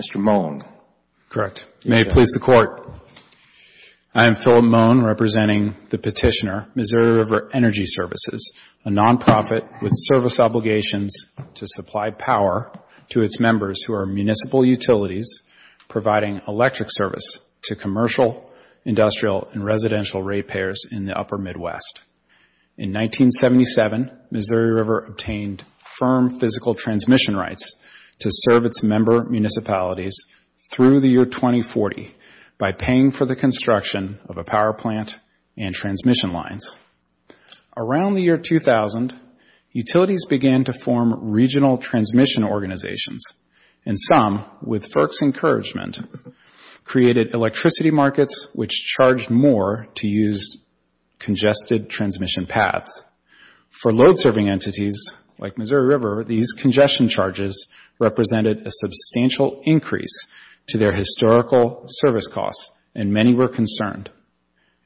Mr. Moen. Correct. May it please the Court. I am Philip Moen, representing the petitioner, Missouri River Energy Services, a non-profit with service obligations to supply power to its members who are municipal utilities providing electric service to commercial, industrial, and residential ratepayers in the Upper Midwest. In 1977, Missouri River obtained firm physical transmission rights to serve its member municipalities through the year 2040 by paying for the construction of a power plant and transmission lines. Around the year 2000, utilities began to form regional transmission organizations, and some, with FERC's encouragement, created electricity markets which charged more to use congested transmission paths. For load-serving entities like Missouri River, these congestion charges represented a substantial increase to their historical service costs, and many were concerned.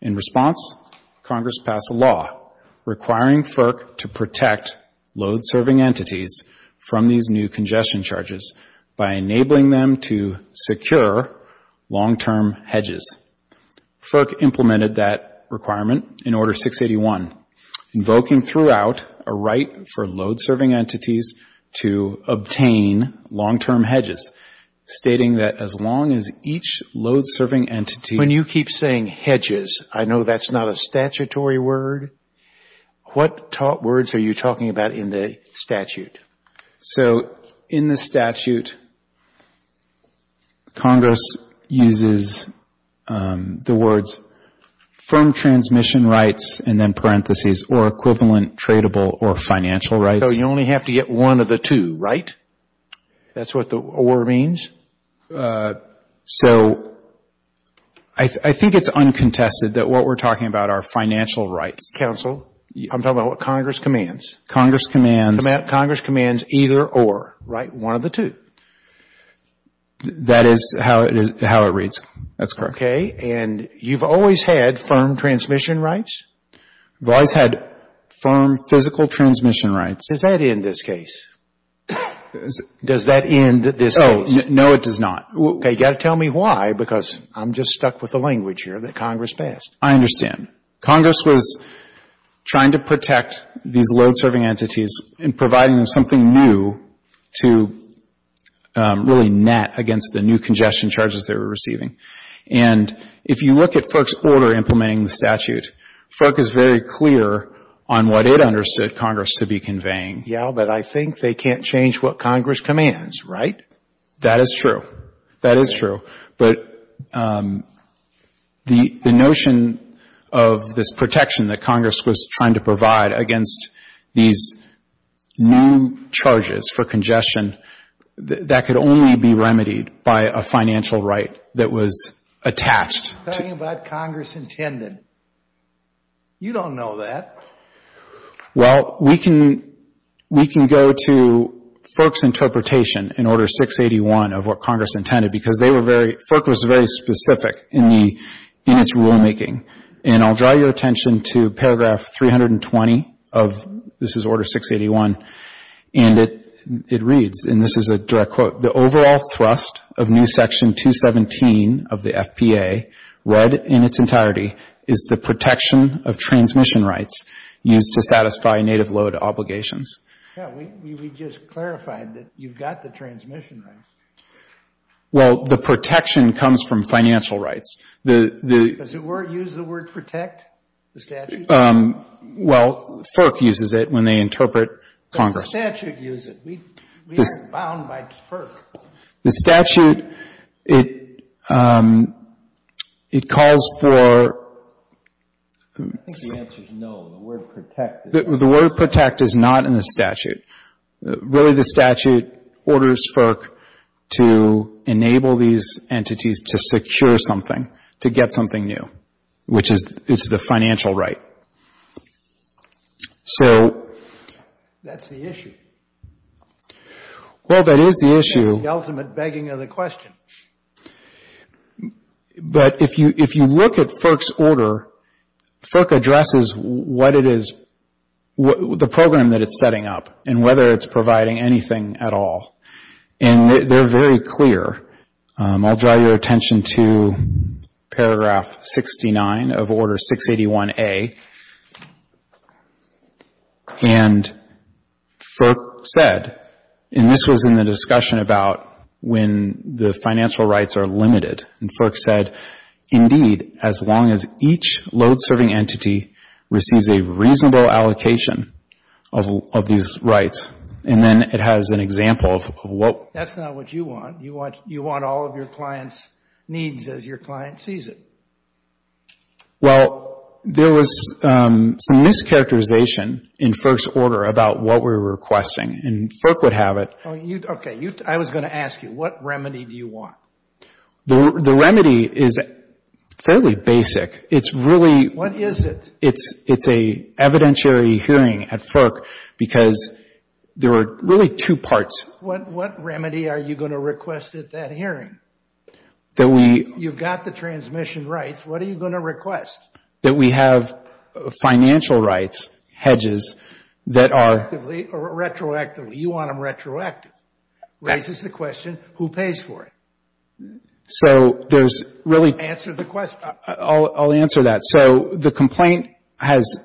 In response, Congress passed a law requiring FERC to protect load-serving entities from these new congestion charges by enabling them to secure long-term hedges. FERC implemented that requirement in Order 681, invoking throughout a right for load-serving entities to obtain long-term hedges, stating that as long as each load-serving entity When you keep saying hedges, I know that's not a statutory word. What words are you talking about in the statute? So in the statute, Congress uses the words firm transmission rights and then parentheses or equivalent tradable or financial rights. So you only have to get one of the two, right? That's what the or means? I think it's uncontested that what we're talking about are financial rights. Counsel, I'm talking about what Congress commands. Congress commands Congress commands either or, right? One of the two. That is how it reads. That's correct. Okay. And you've always had firm transmission rights? I've always had firm physical transmission rights. Does that end this case? Does that end this case? No, it does not. Okay. You've got to tell me why because I'm just stuck with the language here that Congress passed. I understand. Congress was trying to protect these load-serving entities and providing them something new to really net against the new congestion charges they were receiving. And if you look at FERC's order implementing the statute, FERC is very clear on what it understood Congress to be conveying. Yeah, but I think they can't change what Congress commands, right? That is true. That is true. But the notion of this protection that Congress was trying to provide against these new charges for congestion, that could only be remedied by a financial right that was attached. I'm talking about Congress intended. You don't know that. Well, we can go to FERC's interpretation in Order 681 of what Congress intended because they were very, FERC was very specific in its rulemaking. And I'll draw your attention to paragraph 320 of, this is Order 681, and it reads, and this is a direct quote, the overall thrust of new section 217 of the FPA, read in its entirety, is the protection of transmission rights used to satisfy native load obligations. Yeah, we just clarified that you've got the transmission rights. Well, the protection comes from financial rights. Does it use the word protect, the statute? Well, FERC uses it when they interpret Congress. Well, the statute uses it. We aren't bound by FERC. The statute, it calls for... I think the answer is no. The word protect is... The word protect is not in the statute. Really, the statute orders FERC to enable these entities to secure something, to get something new, which is the financial right. So... That's the issue. Well, that is the issue. That's the ultimate begging of the question. But if you look at FERC's order, FERC addresses what it is, the program that it's setting up and whether it's providing anything at all. And they're very clear. I'll draw your attention to paragraph 69 of Order 681A. And FERC said, and this was in the discussion about when the financial rights are limited, and FERC said, indeed, as long as each load serving entity receives a reasonable allocation of these rights. And then it has an example of what... Well, there was some mischaracterization in FERC's order about what we were requesting. And FERC would have it... Okay. I was going to ask you, what remedy do you want? The remedy is fairly basic. It's really... What is it? It's an evidentiary hearing at FERC because there are really two parts. What remedy are you going to request at that hearing? That we... You've got the transmission rights. What are you going to request? That we have financial rights, hedges, that are... Retroactively. You want them retroactive. Raises the question, who pays for it? So, there's really... Answer the question. I'll answer that. So, the complaint has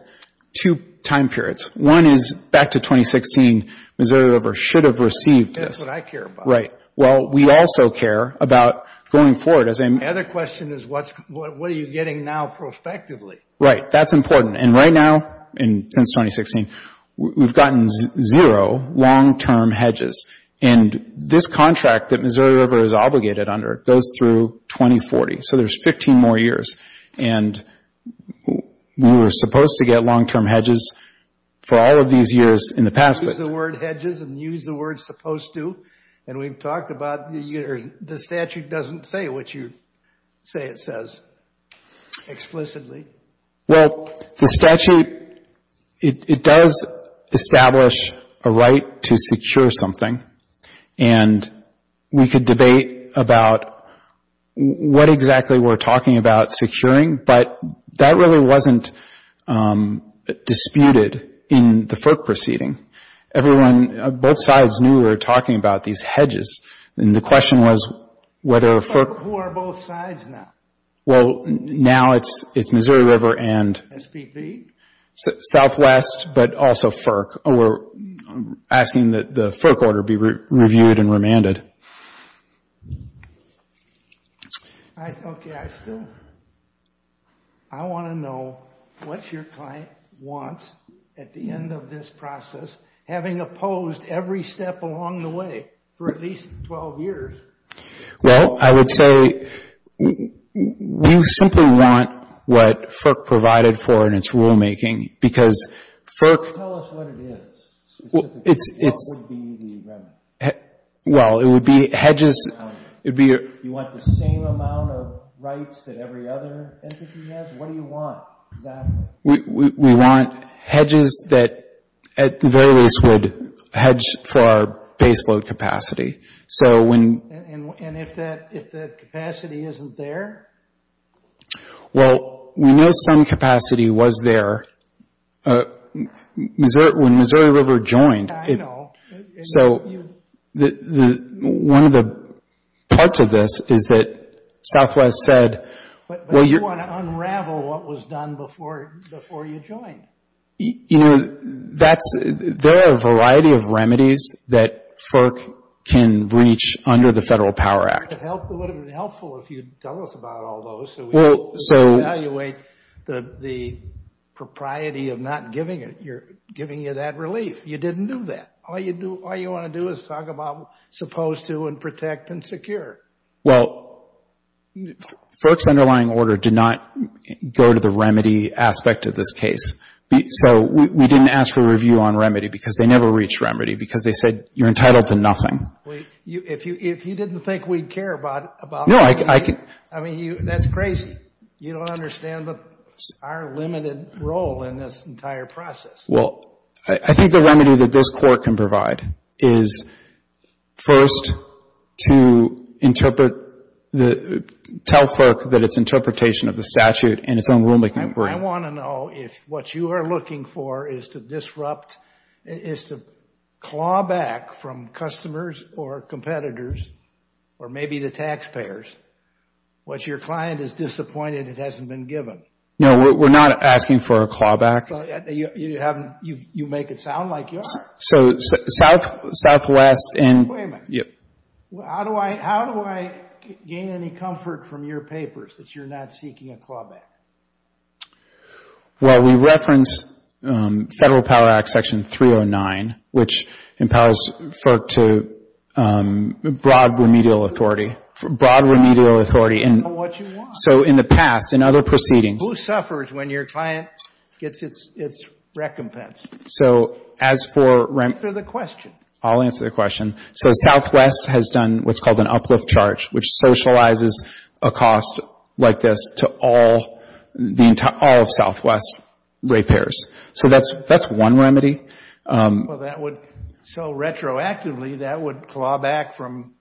two time periods. One is back to 2016. Missouri River should have received this. That's what I care about. Right. Well, we also care about going forward as a... The other question is, what are you getting now prospectively? Right. That's important. And right now, since 2016, we've gotten zero long-term hedges. And this contract that Missouri River is obligated under goes through 2040. So, there's 15 more years. And we were supposed to get long-term hedges for all of these years in the past. Use the word hedges and use the word supposed to. And we've talked about the statute doesn't say what you say it says explicitly. Well, the statute, it does establish a right to secure something. And we could debate about what exactly we're talking about securing. But that really wasn't disputed in the FERC proceeding. Everyone, both sides knew we were talking about these hedges. And the question was whether FERC... Who are both sides now? Well, now it's Missouri River and... SPV? Southwest, but also FERC. We're asking that the FERC order be reviewed and remanded. Okay. I still... I want to know what your client wants at the end of this process. Having opposed every step along the way for at least 12 years. Well, I would say we simply want what FERC provided for in its rulemaking. Because FERC... Tell us what it is. Specifically, what would be the remand? Well, it would be hedges... You want the same amount of rights that every other entity has? What do you want exactly? We want hedges that, at the very least, would hedge for our baseload capacity. And if that capacity isn't there? Well, we know some capacity was there when Missouri River joined. I know. So, one of the parts of this is that Southwest said... You want to unravel what was done before you joined. You know, there are a variety of remedies that FERC can reach under the Federal Power Act. It would have been helpful if you'd tell us about all those so we could evaluate the propriety of not giving you that relief. You didn't do that. All you want to do is talk about supposed to and protect and secure. Well, FERC's underlying order did not go to the remedy aspect of this case. So, we didn't ask for a review on remedy because they never reached remedy because they said you're entitled to nothing. If you didn't think we'd care about... No, I... I mean, that's crazy. You don't understand our limited role in this entire process. Well, I think the remedy that this Court can provide is first to interpret... tell FERC that its interpretation of the statute in its own rulemaking... I want to know if what you are looking for is to disrupt... is to claw back from customers or competitors or maybe the taxpayers what your client is disappointed it hasn't been given. No, we're not asking for a clawback. You make it sound like you are. So, Southwest and... Wait a minute. Yep. How do I gain any comfort from your papers that you're not seeking a clawback? Well, we reference Federal Power Act Section 309, which empowers FERC to broad remedial authority. Broad remedial authority. I know what you want. So, in the past, in other proceedings... Who suffers when your client gets its recompense? So, as for... Answer the question. I'll answer the question. So, Southwest has done what's called an uplift charge, which socializes a cost like this to all of Southwest repairs. So, that's one remedy. Well, that would... So, retroactively, that would claw back from...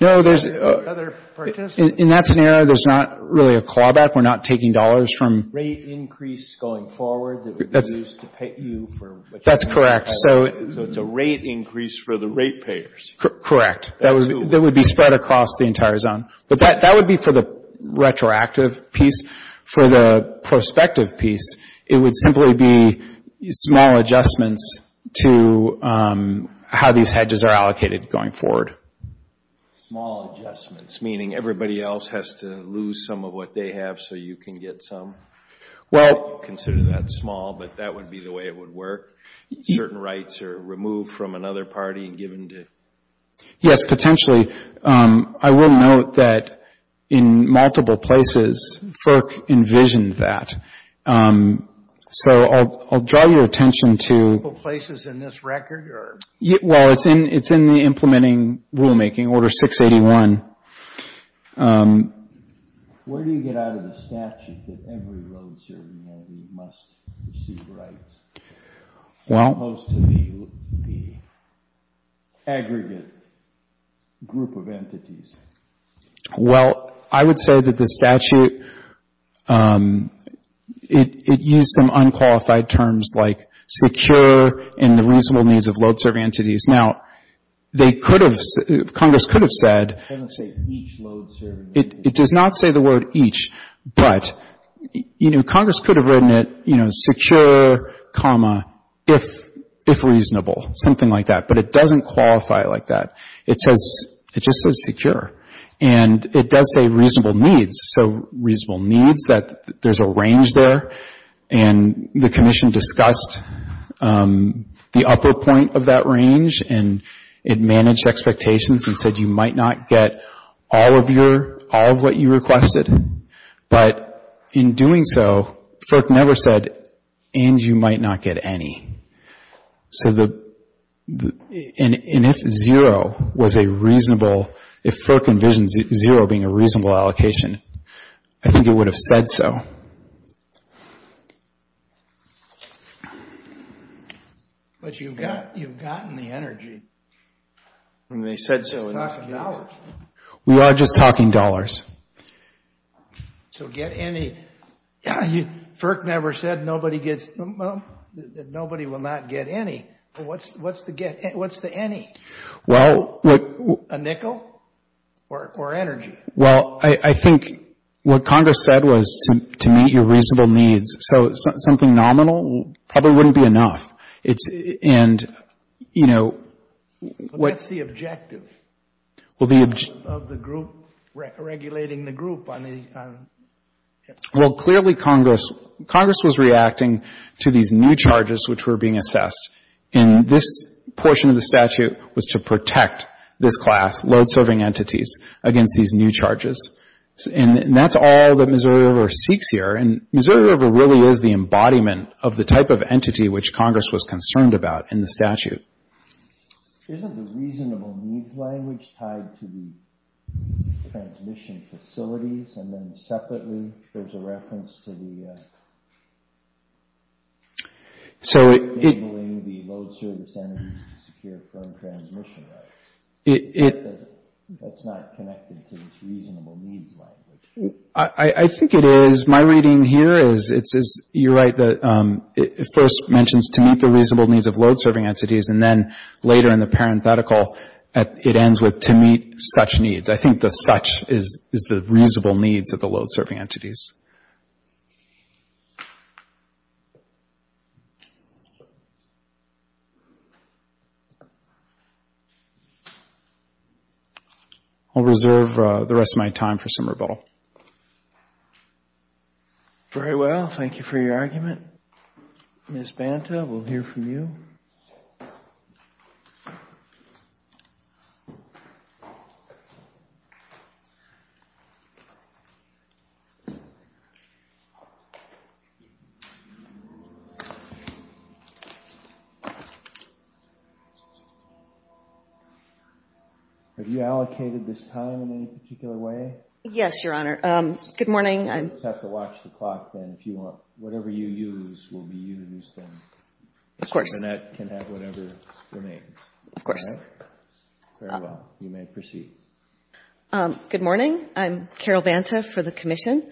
No, there's...... other participants. In that scenario, there's not really a clawback. We're not taking dollars from... Rate increase going forward that would be used to pay you for... That's correct. So, it's a rate increase for the rate payers. Correct. That would be spread across the entire zone. But, that would be for the retroactive piece. For the prospective piece, it would simply be small adjustments to how these hedges are allocated going forward. Small adjustments, meaning everybody else has to lose some of what they have so you can get some? Well... Consider that small, but that would be the way it would work? Certain rights are removed from another party and given to... Yes, potentially. I will note that in multiple places, FERC envisioned that. So, I'll draw your attention to... Multiple places in this record, or... Well, it's in the implementing rulemaking, Order 681. Where do you get out of the statute that every road-serving entity must receive rights? Well... Most of the aggregate group of entities. Well, I would say that the statute... It used some unqualified terms like secure and the reasonable needs of load-serving entities. Now, they could have... Congress could have said... It doesn't say each load-serving entity. It does not say the word each. But, you know, Congress could have written it, you know, secure, comma, if reasonable. Something like that. But, it doesn't qualify like that. It says... it just says secure. And, it does say reasonable needs. So, reasonable needs, that there's a range there. And, the Commission discussed the upper point of that range. And, it managed expectations and said you might not get all of your... all of what you requested. But, in doing so, FERC never said, and you might not get any. So, the... And, if zero was a reasonable... If FERC envisions zero being a reasonable allocation, I think it would have said so. But, you've gotten the energy. When they said so... We're just talking dollars. We are just talking dollars. So, get any... FERC never said nobody gets... nobody will not get any. What's the get... what's the any? Well... A nickel or energy? Well, I think what Congress said was to meet your reasonable needs. So, something nominal probably wouldn't be enough. It's... and, you know... What's the objective? Well, the... Of the group, regulating the group on... Well, clearly, Congress... Congress was reacting to these new charges which were being assessed. And, this portion of the statute was to protect this class, load-serving entities, against these new charges. And, that's all that Missouri River seeks here. And, Missouri River really is the embodiment of the type of entity which Congress was concerned about in the statute. Isn't the reasonable needs language tied to the transmission facilities? And then, separately, there's a reference to the... So, it... Enabling the load-service entities to secure firm transmission rights. It... That's not connected to this reasonable needs language. I think it is. My reading here is... it's... you're right. The... it first mentions to meet the reasonable needs of load-serving entities. And then, later in the parenthetical, it ends with to meet such needs. I think the such is the reasonable needs of the load-serving entities. I'll reserve the rest of my time for some rebuttal. Very well. Thank you for your argument. Ms. Banta, we'll hear from you. Have you allocated this time in any particular way? Yes, Your Honor. Good morning. You just have to watch the clock, then, if you want. Whatever you use will be used, then. Of course. Mr. Bannett can have whatever remains. Of course. Very well. You may proceed. Good morning. I'm Carol Banta for the Commission.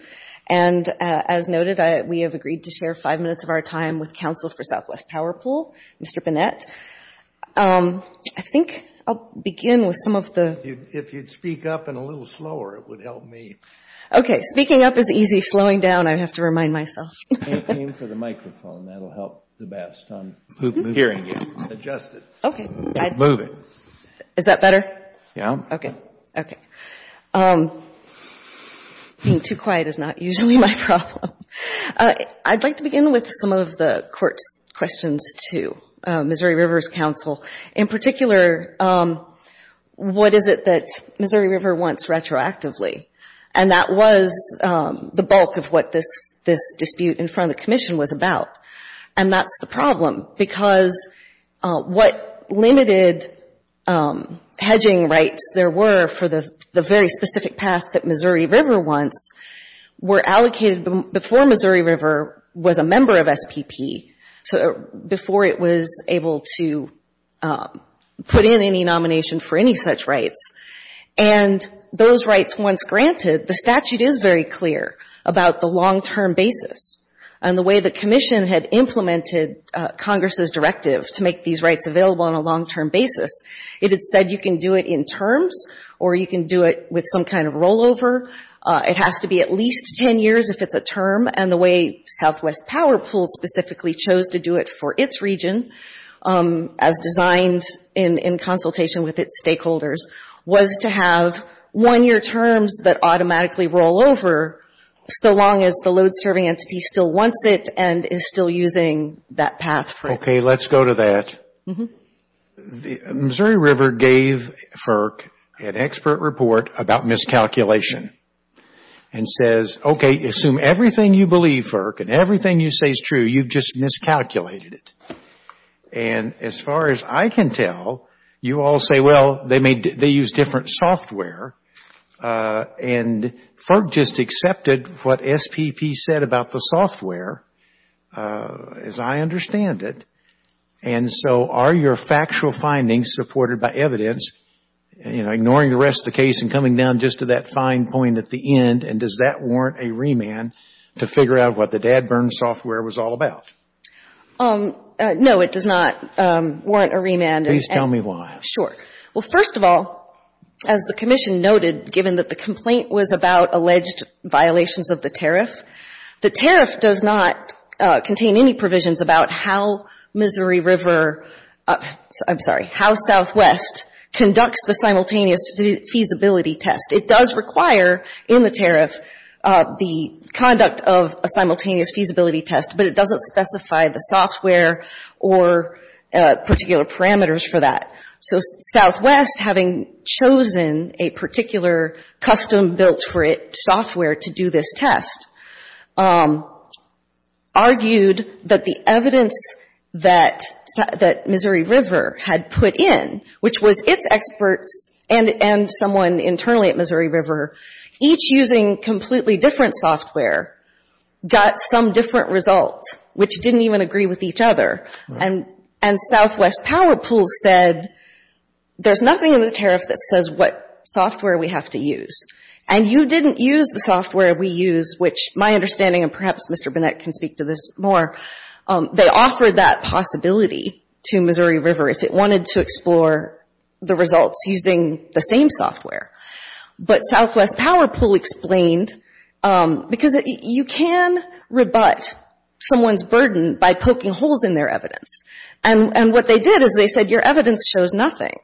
And, as noted, we have agreed to share five minutes of our time with counsel for Southwest Power Pool, Mr. Bannett. I think I'll begin with some of the... If you'd speak up and a little slower, it would help me. Okay. Speaking up is easy. Slowing down, I'd have to remind myself. Aim for the microphone. That'll help the best on hearing you. Adjust it. Okay. Move it. Is that better? Yeah. Okay. Okay. Being too quiet is not usually my problem. I'd like to begin with some of the Court's questions to Missouri Rivers Counsel. In particular, what is it that Missouri River wants retroactively? And that was the bulk of what this dispute in front of the Commission was about. And that's the problem, because what limited hedging rights there were for the very specific path that Missouri River wants were allocated before Missouri River was a member of SPP, so before it was able to put in any nomination for any such rights. And those rights, once granted, the statute is very clear about the long-term basis. And the way the Commission had implemented Congress's directive to make these rights available on a long-term basis, it had said you can do it in terms or you can do it with some kind of rollover. It has to be at least 10 years if it's a term. And the way Southwest Power Pool specifically chose to do it for its region, as designed in consultation with its stakeholders, was to have one-year terms that automatically roll over so long as the load-serving entity still wants it and is still using that path for it. Okay. Let's go to that. Missouri River gave FERC an expert report about miscalculation and says, okay, assume everything you believe, FERC, and everything you say is true, you've just miscalculated it. And as far as I can tell, you all say, well, they use different software. And FERC just accepted what SPP said about the software, as I understand it. And so are your factual findings supported by evidence, you know, ignoring the rest of the case and coming down just to that fine point at the end, and does that warrant a remand to figure out what the dad burn software was all about? No, it does not warrant a remand. Please tell me why. Sure. Well, first of all, as the Commission noted, given that the complaint was about alleged violations of the tariff, the tariff does not contain any provisions about how Missouri River, I'm sorry, how Southwest conducts the simultaneous feasibility test. It does require in the tariff the conduct of a simultaneous feasibility test, but it doesn't specify the software or particular parameters for that. So Southwest, having chosen a particular custom-built for it software to do this test, argued that the evidence that Missouri River had put in, which was its experts and someone internally at Missouri River, each using completely different software, got some different result, which didn't even agree with each other. And Southwest Power Pool said, there's nothing in the tariff that says what software we have to use. And you didn't use the software we use, which my understanding, and perhaps Mr. Burnett can speak to this more, they offered that possibility to Missouri River if it wanted to explore the results using the same software. But Southwest Power Pool explained, because you can rebut someone's burden by poking holes in their evidence. And what they did is they said, your evidence shows nothing.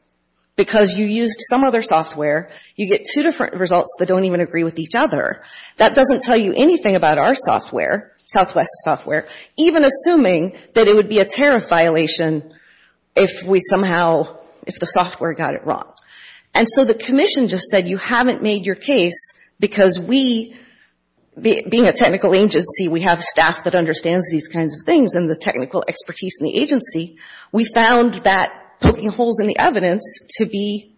Because you used some other software, you get two different results that don't even agree with each other. That doesn't tell you anything about our software, Southwest's software, even assuming that it would be a tariff violation if we somehow, if the software got it wrong. And so the commission just said, you haven't made your case because we, being a technical agency, we have staff that understands these kinds of things and the technical expertise in the agency. We found that poking holes in the evidence to be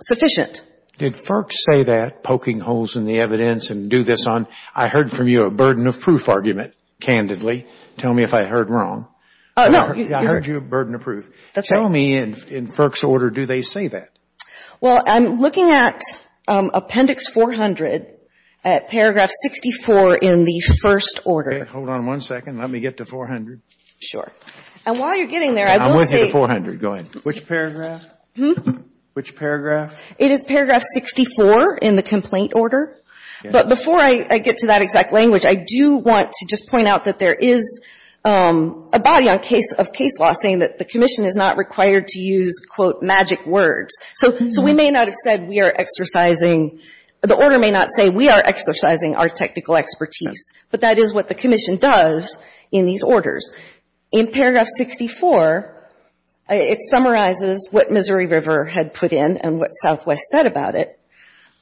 sufficient. Did FERC say that, poking holes in the evidence and do this on, I heard from you a burden of proof argument, candidly. Tell me if I heard wrong. No. I heard you a burden of proof. That's right. And in FERC's order, do they say that? Well, I'm looking at Appendix 400, at paragraph 64 in the first order. Okay. Hold on one second. Let me get to 400. Sure. And while you're getting there, I will say. I went to 400. Go ahead. Which paragraph? Which paragraph? It is paragraph 64 in the complaint order. But before I get to that exact language, I do want to just point out that there is a body of case law saying that the Commission is not required to use, quote, magic words. So we may not have said we are exercising. The order may not say we are exercising our technical expertise. But that is what the Commission does in these orders. In paragraph 64, it summarizes what Missouri River had put in and what Southwest said about it.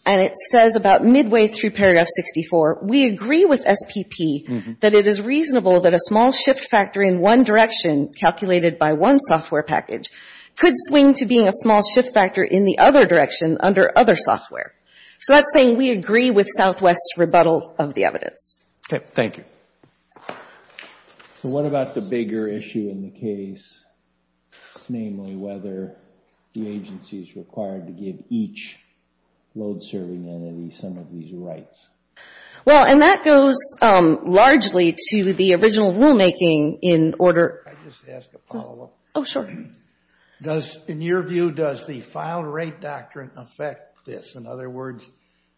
And it says about midway through paragraph 64, we agree with SPP that it is reasonable that a small shift factor in one direction, calculated by one software package, could swing to being a small shift factor in the other direction under other software. So that's saying we agree with Southwest's rebuttal of the evidence. Okay. Thank you. So what about the bigger issue in the case, namely whether the agency is required to give each load serving entity some of these rights? Well, and that goes largely to the original rulemaking in order. Can I just ask a follow-up? Oh, sure. In your view, does the file rate doctrine affect this? In other words,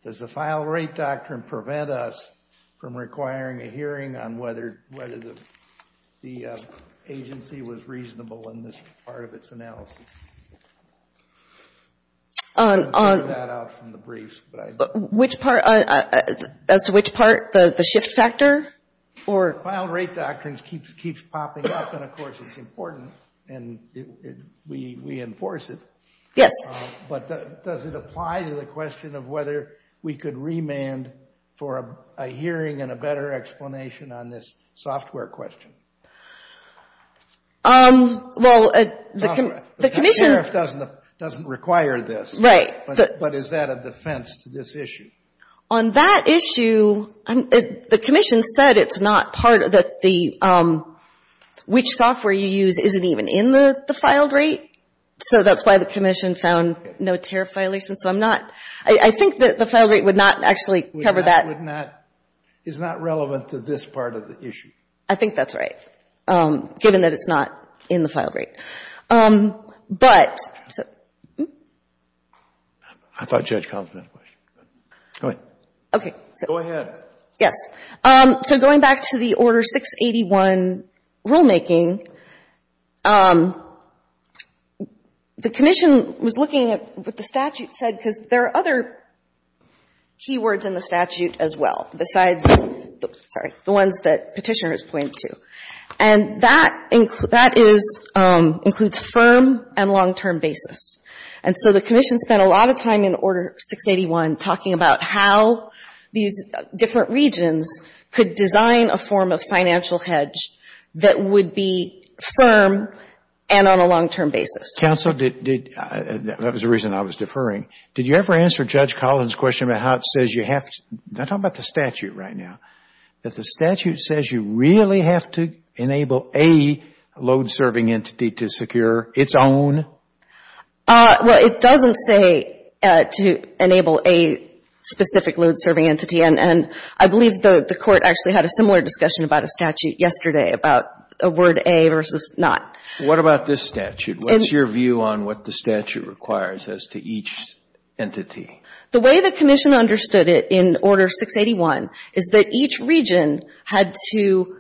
does the file rate doctrine prevent us from requiring a hearing on whether the agency was reasonable in this part of its analysis? I don't have that out from the briefs. As to which part, the shift factor? File rate doctrine keeps popping up, and of course it's important, and we enforce it. Yes. But does it apply to the question of whether we could remand for a hearing and a better explanation on this software question? Well, the commission — The tariff doesn't require this. Right. But is that a defense to this issue? On that issue, the commission said it's not part of the — which software you use isn't even in the filed rate. So that's why the commission found no tariff violations. So I'm not — I think that the file rate would not actually cover that. It would not — is not relevant to this part of the issue. I think that's right, given that it's not in the filed rate. But — I thought Judge Compton had a question. Go ahead. Okay. Go ahead. Yes. So going back to the Order 681 rulemaking, the commission was looking at what the statute said, because there are other key words in the statute as well besides — sorry — the ones that Petitioner has pointed to. And that is — includes firm and long-term basis. And so the commission spent a lot of time in Order 681 talking about how these different regions could design a form of financial hedge that would be firm and on a long-term basis. Counsel, did — that was the reason I was deferring. Did you ever answer Judge Collins' question about how it says you have to — I'm talking about the statute right now — that the statute says you really have to enable a load-serving entity to secure its own? Well, it doesn't say to enable a specific load-serving entity. And I believe the Court actually had a similar discussion about a statute yesterday about a word A versus not. What about this statute? What's your view on what the statute requires as to each entity? The way the commission understood it in Order 681 is that each region had to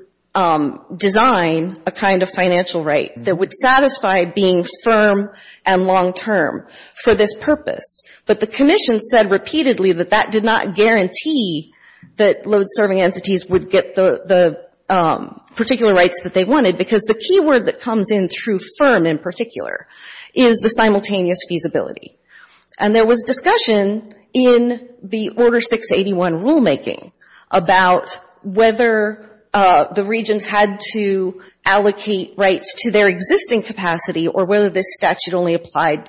design a kind of financial right that would satisfy being firm and long-term for this purpose. But the commission said repeatedly that that did not guarantee that load-serving entities would get the particular rights that they wanted, because the key word that came through firm in particular is the simultaneous feasibility. And there was discussion in the Order 681 rulemaking about whether the regions had to allocate rights to their existing capacity or whether this statute only applied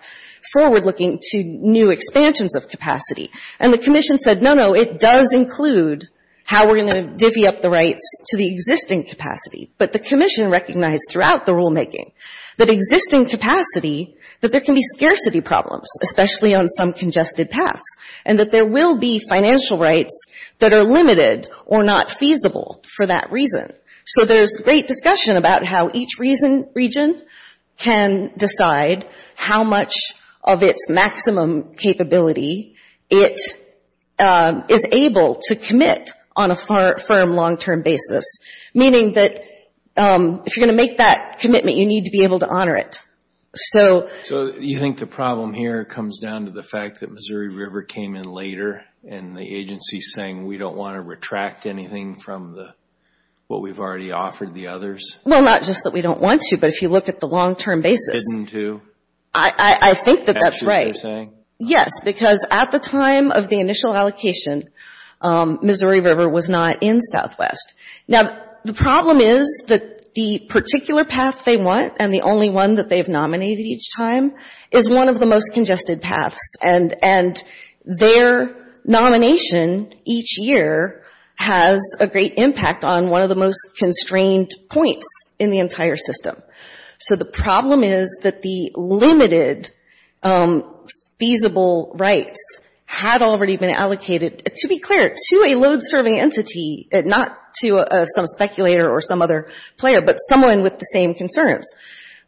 forward-looking to new expansions of capacity. And the commission said, no, no, it does include how we're going to divvy up the rights to the existing capacity. But the commission recognized throughout the rulemaking that existing capacity, that there can be scarcity problems, especially on some congested paths, and that there will be financial rights that are limited or not feasible for that reason. So there's great discussion about how each region can decide how much of its maximum capability it is able to commit on a firm long-term basis, meaning that if you're going to make that commitment, you need to be able to honor it. So you think the problem here comes down to the fact that Missouri River came in later and the agency's saying we don't want to retract anything from what we've already offered the others? Well, not just that we don't want to, but if you look at the long-term basis. Didn't do? I think that that's right. Is that what you're saying? Yes, because at the time of the initial allocation, Missouri River was not in Southwest. Now, the problem is that the particular path they want and the only one that they've nominated each time is one of the most congested paths. And their nomination each year has a great impact on one of the most constrained points in the entire system. So the problem is that the limited feasible rights had already been allocated, to be clear, to a load-serving entity, not to some speculator or some other player, but someone with the same concerns.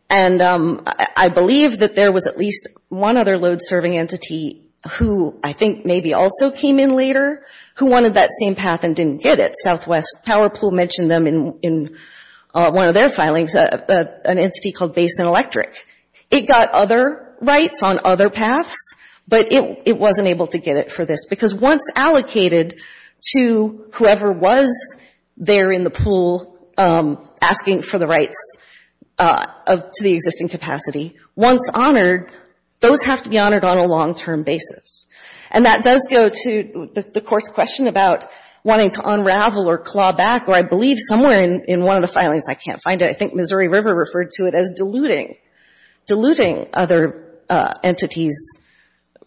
And I believe that there was at least one other load-serving entity who I think maybe also came in later who wanted that same path and didn't get it. mentioned them in one of their filings, an entity called Basin Electric. It got other rights on other paths, but it wasn't able to get it for this. Because once allocated to whoever was there in the pool asking for the rights to the existing capacity, once honored, those have to be honored on a long-term basis. And that does go to the Court's question about wanting to unravel or claw back, or I believe somewhere in one of the filings, I can't find it, I think Missouri River referred to it as diluting, diluting other entities'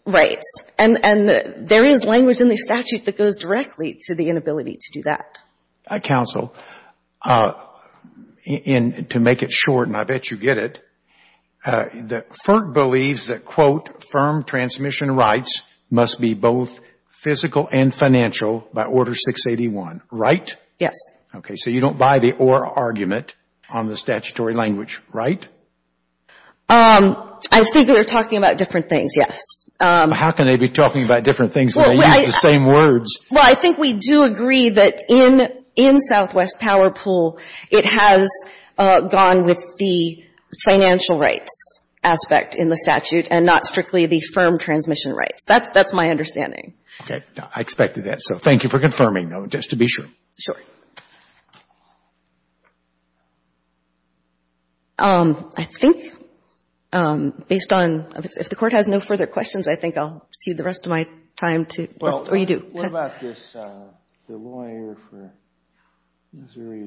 rights. And there is language in the statute that goes directly to the inability to do that. Counsel, to make it short, and I bet you get it, that FERT believes that, quote, firm transmission rights must be both physical and financial by Order 681, right? Yes. Okay. So you don't buy the or argument on the statutory language, right? I think they're talking about different things, yes. How can they be talking about different things when they use the same words? Well, I think we do agree that in Southwest Power Pool, it has gone with the financial rights aspect in the statute and not strictly the firm transmission rights. That's my understanding. Okay. I expected that. So thank you for confirming, though, just to be sure. Sure. I think, based on, if the Court has no further questions, I think I'll cede the rest of my time to, or you do. What about this, the lawyer for Missouri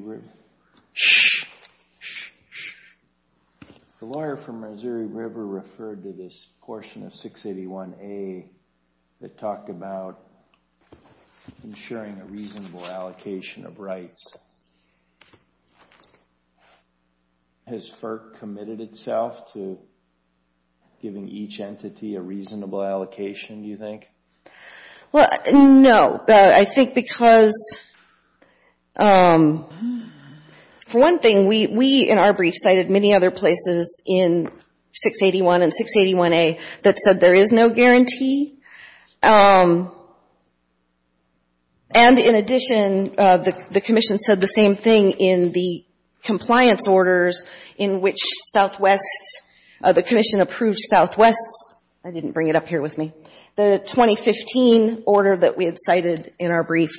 River referred to this portion of 681A that talked about ensuring a reasonable allocation of rights. Has FERT committed itself to giving each entity a reasonable allocation, do you think? Well, no. I think because, for one thing, we in our brief cited many other places in 681 and 681A that said there is no guarantee. And in addition, the Commission said the same thing in the compliance orders in which Southwest the Commission approved Southwest's, I didn't bring it up here with me, the 2015 order that we had cited in our brief.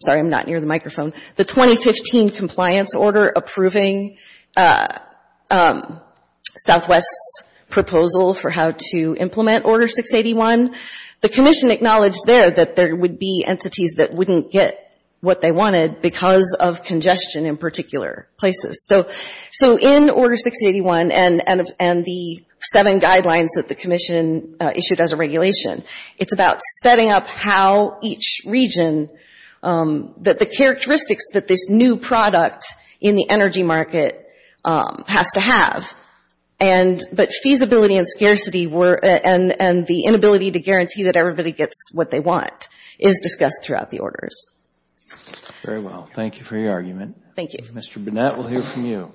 Sorry, I'm not near the microphone. The 2015 compliance order approving Southwest's proposal for how to implement Order 681. The Commission acknowledged there that there would be entities that wouldn't get what they wanted because of congestion in particular places. So in Order 681 and the seven guidelines that the Commission issued as a regulation, it's about setting up how each region, the characteristics that this new product in the energy market has to have. But feasibility and scarcity and the inability to guarantee that everybody gets what they want is discussed throughout the orders. Very well. Thank you for your argument. Thank you. Mr. Burnett, we'll hear from you.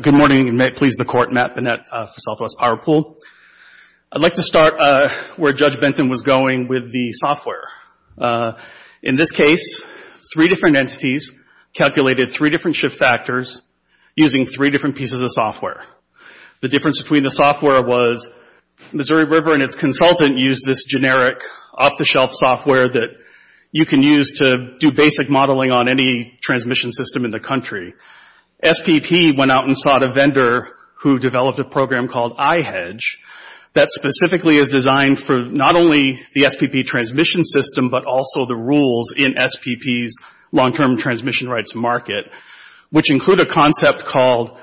Good morning, and may it please the Court, Matt Burnett for Southwest Power Pool. I'd like to start where Judge Benton was going with the software. In this case, three different entities calculated three different shift factors using three different pieces of software. The difference between the software was Missouri River and its consultant used this generic off-the-shelf software that you can use to do basic modeling on any transmission system in the country. SPP went out and sought a vendor who developed a program called iHedge that specifically is designed for not only the SPP transmission system but also the rules in SPP's long-term transmission rights market, which include a concept called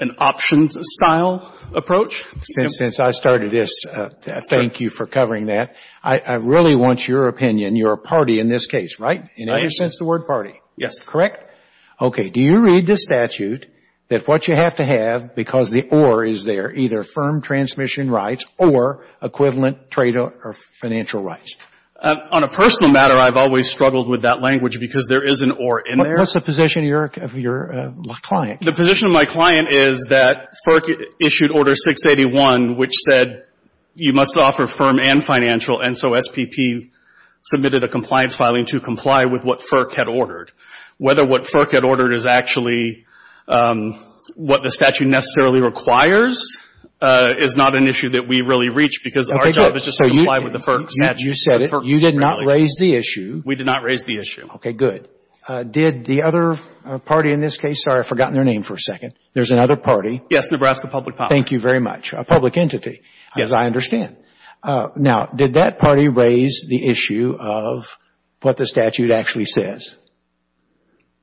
an options-style approach. Since I started this, thank you for covering that. I really want your opinion. You're a party in this case, right, in any sense the word party? Yes. Correct? Okay. Do you read the statute that what you have to have because the or is there, either firm transmission rights or equivalent trade or financial rights? On a personal matter, I've always struggled with that language because there is an or in there. What's the position of your client? The position of my client is that FERC issued Order 681, which said you must offer firm and financial, and so SPP submitted a compliance filing to comply with what FERC had ordered. Whether what FERC had ordered is actually what the statute necessarily requires is not an issue that we really reach because our job is just to comply with the FERC statute. As you said, you did not raise the issue. We did not raise the issue. Okay. Good. Did the other party in this case, sorry, I've forgotten their name for a second. There's another party. Yes, Nebraska Public Policy. Thank you very much. A public entity. Yes. As I understand. Now, did that party raise the issue of what the statute actually says?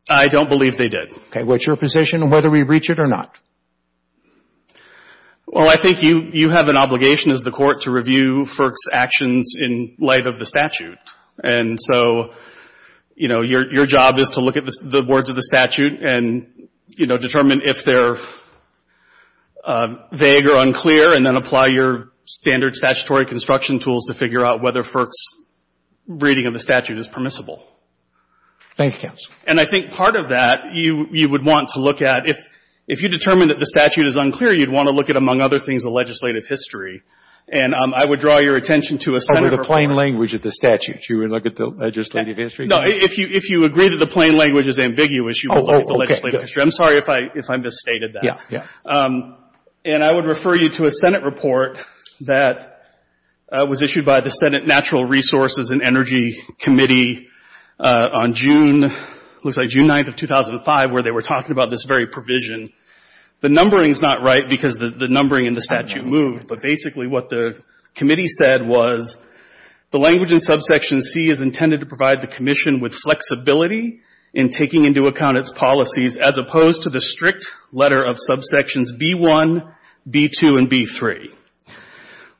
I don't believe they did. Okay. What's your position on whether we reach it or not? Well, I think you have an obligation as the Court to review FERC's actions in light of the statute. And so, you know, your job is to look at the words of the statute and, you know, determine if they're vague or unclear, and then apply your standard statutory construction tools to figure out whether FERC's reading of the statute is permissible. Thank you, counsel. And I think part of that you would want to look at. If you determine that the statute is unclear, you'd want to look at, among other things, the legislative history. And I would draw your attention to a Senate report. Over the plain language of the statute, you would look at the legislative history? No. If you agree that the plain language is ambiguous, you would look at the legislative history. Oh, okay. Good. I'm sorry if I misstated that. Yeah. Yeah. And I would refer you to a Senate report that was issued by the Senate Natural Resources and Energy Committee on June, looks like June 9th of 2005, where they were talking about this very provision. The numbering is not right because the numbering in the statute moved, but basically what the committee said was the language in subsection C is intended to provide the commission with flexibility in taking into account its policies as opposed to the strict letter of subsections B-1, B-2, and B-3.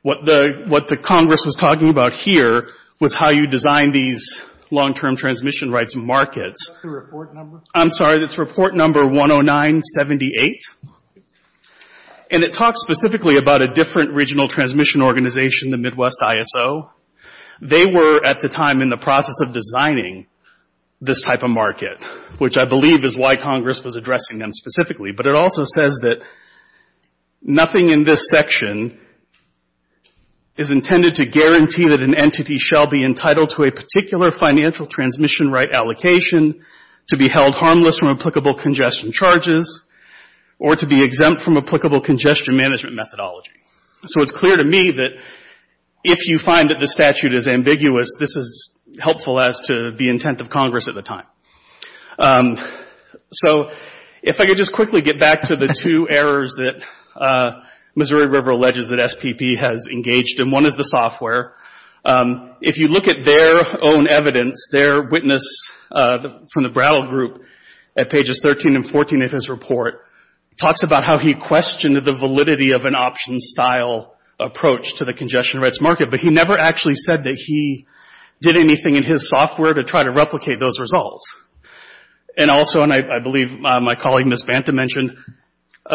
What the Congress was talking about here was how you design these long-term transmission rights markets. Is that the report number? I'm sorry. That's report number 10978. And it talks specifically about a different regional transmission organization, the Midwest ISO. They were, at the time, in the process of designing this type of market, which I believe is why Congress was addressing them specifically. But it also says that nothing in this section is intended to guarantee that an entity shall be entitled to a particular financial transmission right allocation, to be held harmless from applicable congestion charges, or to be exempt from applicable congestion management methodology. So it's clear to me that if you find that this statute is ambiguous, this is helpful as to the intent of Congress at the time. So if I could just quickly get back to the two errors that Missouri River alleges that SPP has engaged in. One is the software. If you look at their own evidence, their witness from the Brattle Group at pages 13 and 14 of his report talks about how he questioned the validity of an option-style approach to the congestion rights market, but he never actually said that he did anything in his results. And also, and I believe my colleague Ms. Banta mentioned,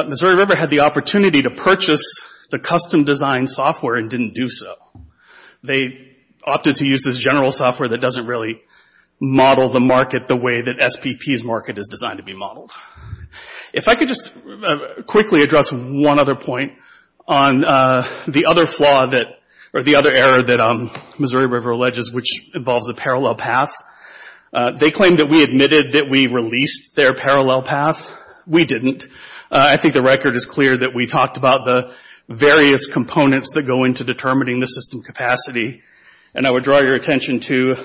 Missouri River had the opportunity to purchase the custom-designed software and didn't do so. They opted to use this general software that doesn't really model the market the way that SPP's market is designed to be modeled. If I could just quickly address one other point on the other flaw that, or the other error that Missouri River alleges, which involves a parallel path. They claim that we admitted that we released their parallel path. We didn't. I think the record is clear that we talked about the various components that go into determining the system capacity. And I would draw your attention to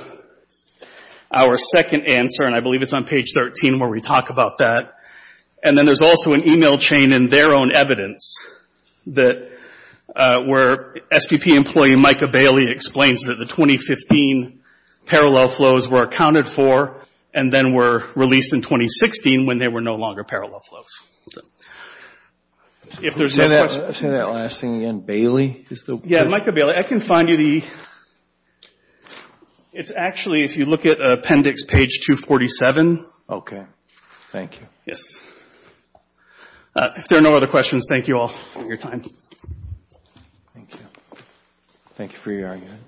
our second answer, and I believe it's on page 13 where we talk about that. And then there's also an email chain in their own evidence that where SPP employee Micah Bailey explains that the 2015 parallel flows were accounted for and then were released in 2016 when they were no longer parallel flows. If there's no questions... Say that last thing again, Bailey? Yeah, Micah Bailey. I can find you the... It's actually, if you look at appendix page 247. Okay. Thank you. Yes. If there are no other questions, thank you all for your time. Thank you. Thank you for your argument.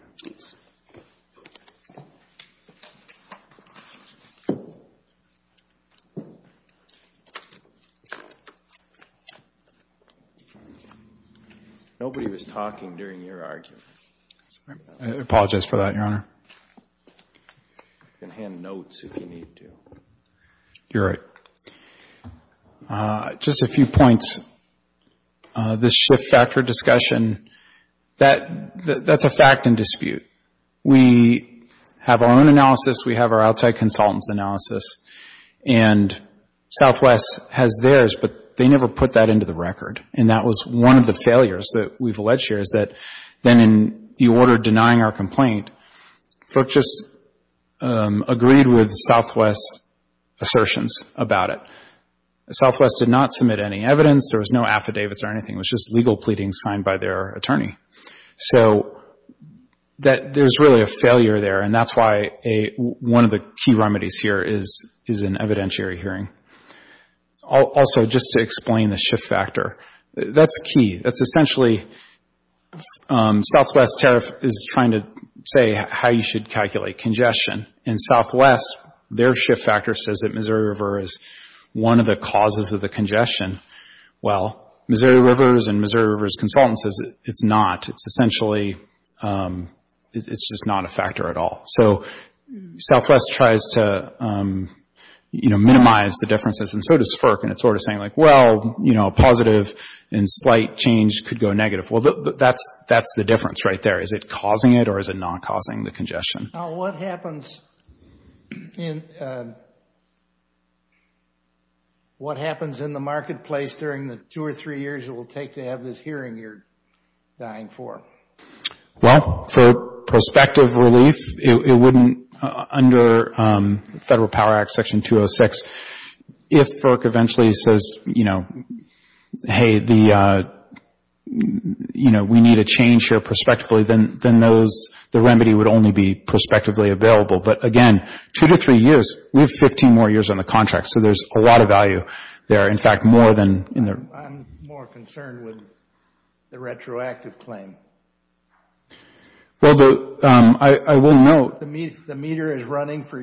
Nobody was talking during your argument. I apologize for that, Your Honor. You can hand notes if you need to. You're right. Just a few points. This shift factor discussion, that's a fact in dispute. We have our own analysis. We have our outside consultants' analysis. And Southwest has theirs, but they never put that into the record. And that was one of the failures that we've alleged here is that then in the order denying our complaint, Brooke just agreed with Southwest's assertions about it. Southwest did not submit any evidence. There was no affidavits or anything. It was just legal pleadings signed by their attorney. So there's really a failure there, and that's why one of the key remedies here is an evidentiary hearing. Also, just to explain the shift factor, that's key. That's essentially Southwest's tariff is trying to say how you should calculate congestion. And Southwest, their shift factor says that Missouri River is one of the causes of the congestion. Well, Missouri River's and Missouri River's consultant says it's not. It's essentially, it's just not a factor at all. So Southwest tries to minimize the differences, and so does FERC. And it's sort of saying like, well, a positive and slight change could go negative. Well, that's the difference right there. Is it causing it or is it not causing the congestion? Now, what happens in the marketplace during the two or three years it will take to have this hearing you're dying for? Well, for prospective relief, it wouldn't under Federal Power Act Section 206. If FERC eventually says, you know, hey, we need a change here prospectively, then the remedy would only be prospectively available. But again, two to three years, we have 15 more years on the contract, so there's a lot of value there. In fact, more than in the... I'm more concerned with the retroactive claim. Well, I will note... The meter is running for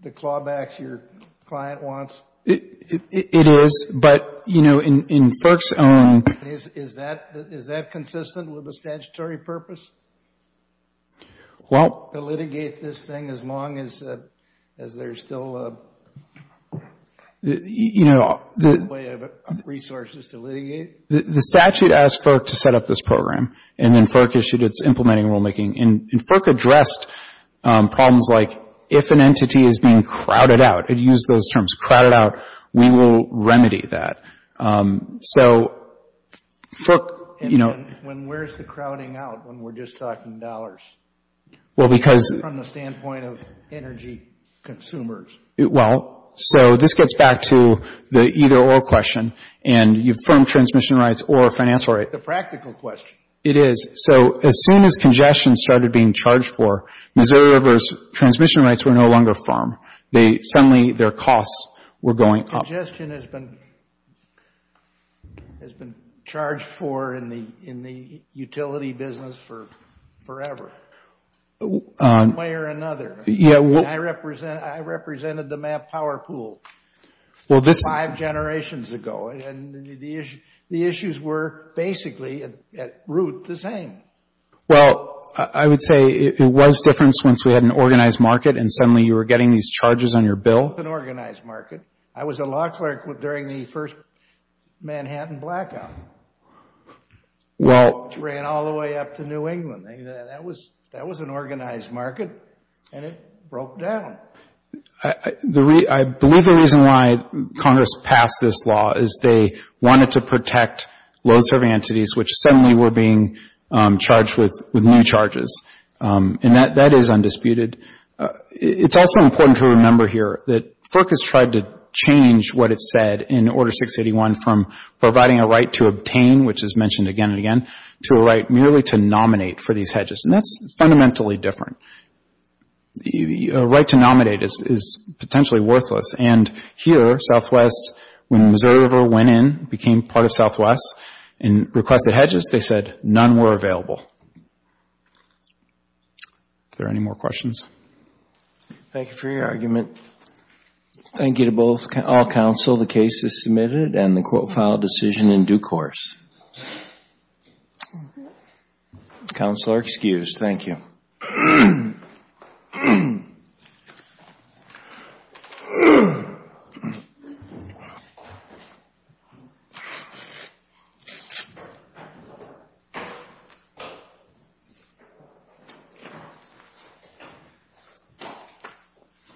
the clawbacks your client wants? It is, but, you know, in FERC's own... Is that consistent with the statutory purpose? Well... To litigate this thing as long as there's still a way of resources to litigate? The statute asked FERC to set up this program, and then FERC issued its implementing rulemaking. And FERC addressed problems like if an entity is being crowded out, it used those terms, crowded out, we will remedy that. So FERC, you know... When where's the crowding out when we're just talking dollars? Well, because... From the standpoint of energy consumers. Well, so this gets back to the either or question, and you firm transmission rights or financial rights. It's a practical question. It is. So as soon as congestion started being charged for, Missouri River's transmission rights were no longer firm. Suddenly their costs were going up. Congestion has been charged for in the utility business forever. One way or another. I represented the MAP power pool five generations ago, and the issues were basically at root the same. Well, I would say it was different once we had an organized market and suddenly you were getting these charges on your bill. It was both an organized market. I was a law clerk during the first Manhattan blackout, which ran all the way up to New England. That was an organized market, and it broke down. I believe the reason why Congress passed this law is they wanted to protect low-serving entities, which suddenly were being charged with new charges, and that is undisputed. It's also important to remember here that FERC has tried to change what it said in Order 681 from providing a right to obtain, which is mentioned again and again, to a right merely to nominate for these hedges, and that's fundamentally different. A right to nominate is potentially worthless, and here Southwest, when Missouri River went in, became part of Southwest and requested hedges, they said none were available. Are there any more questions? Thank you for your argument. Thank you to all counsel. The case is submitted and the court filed a decision in due course. Counsel are excused. Thank you. Thank you.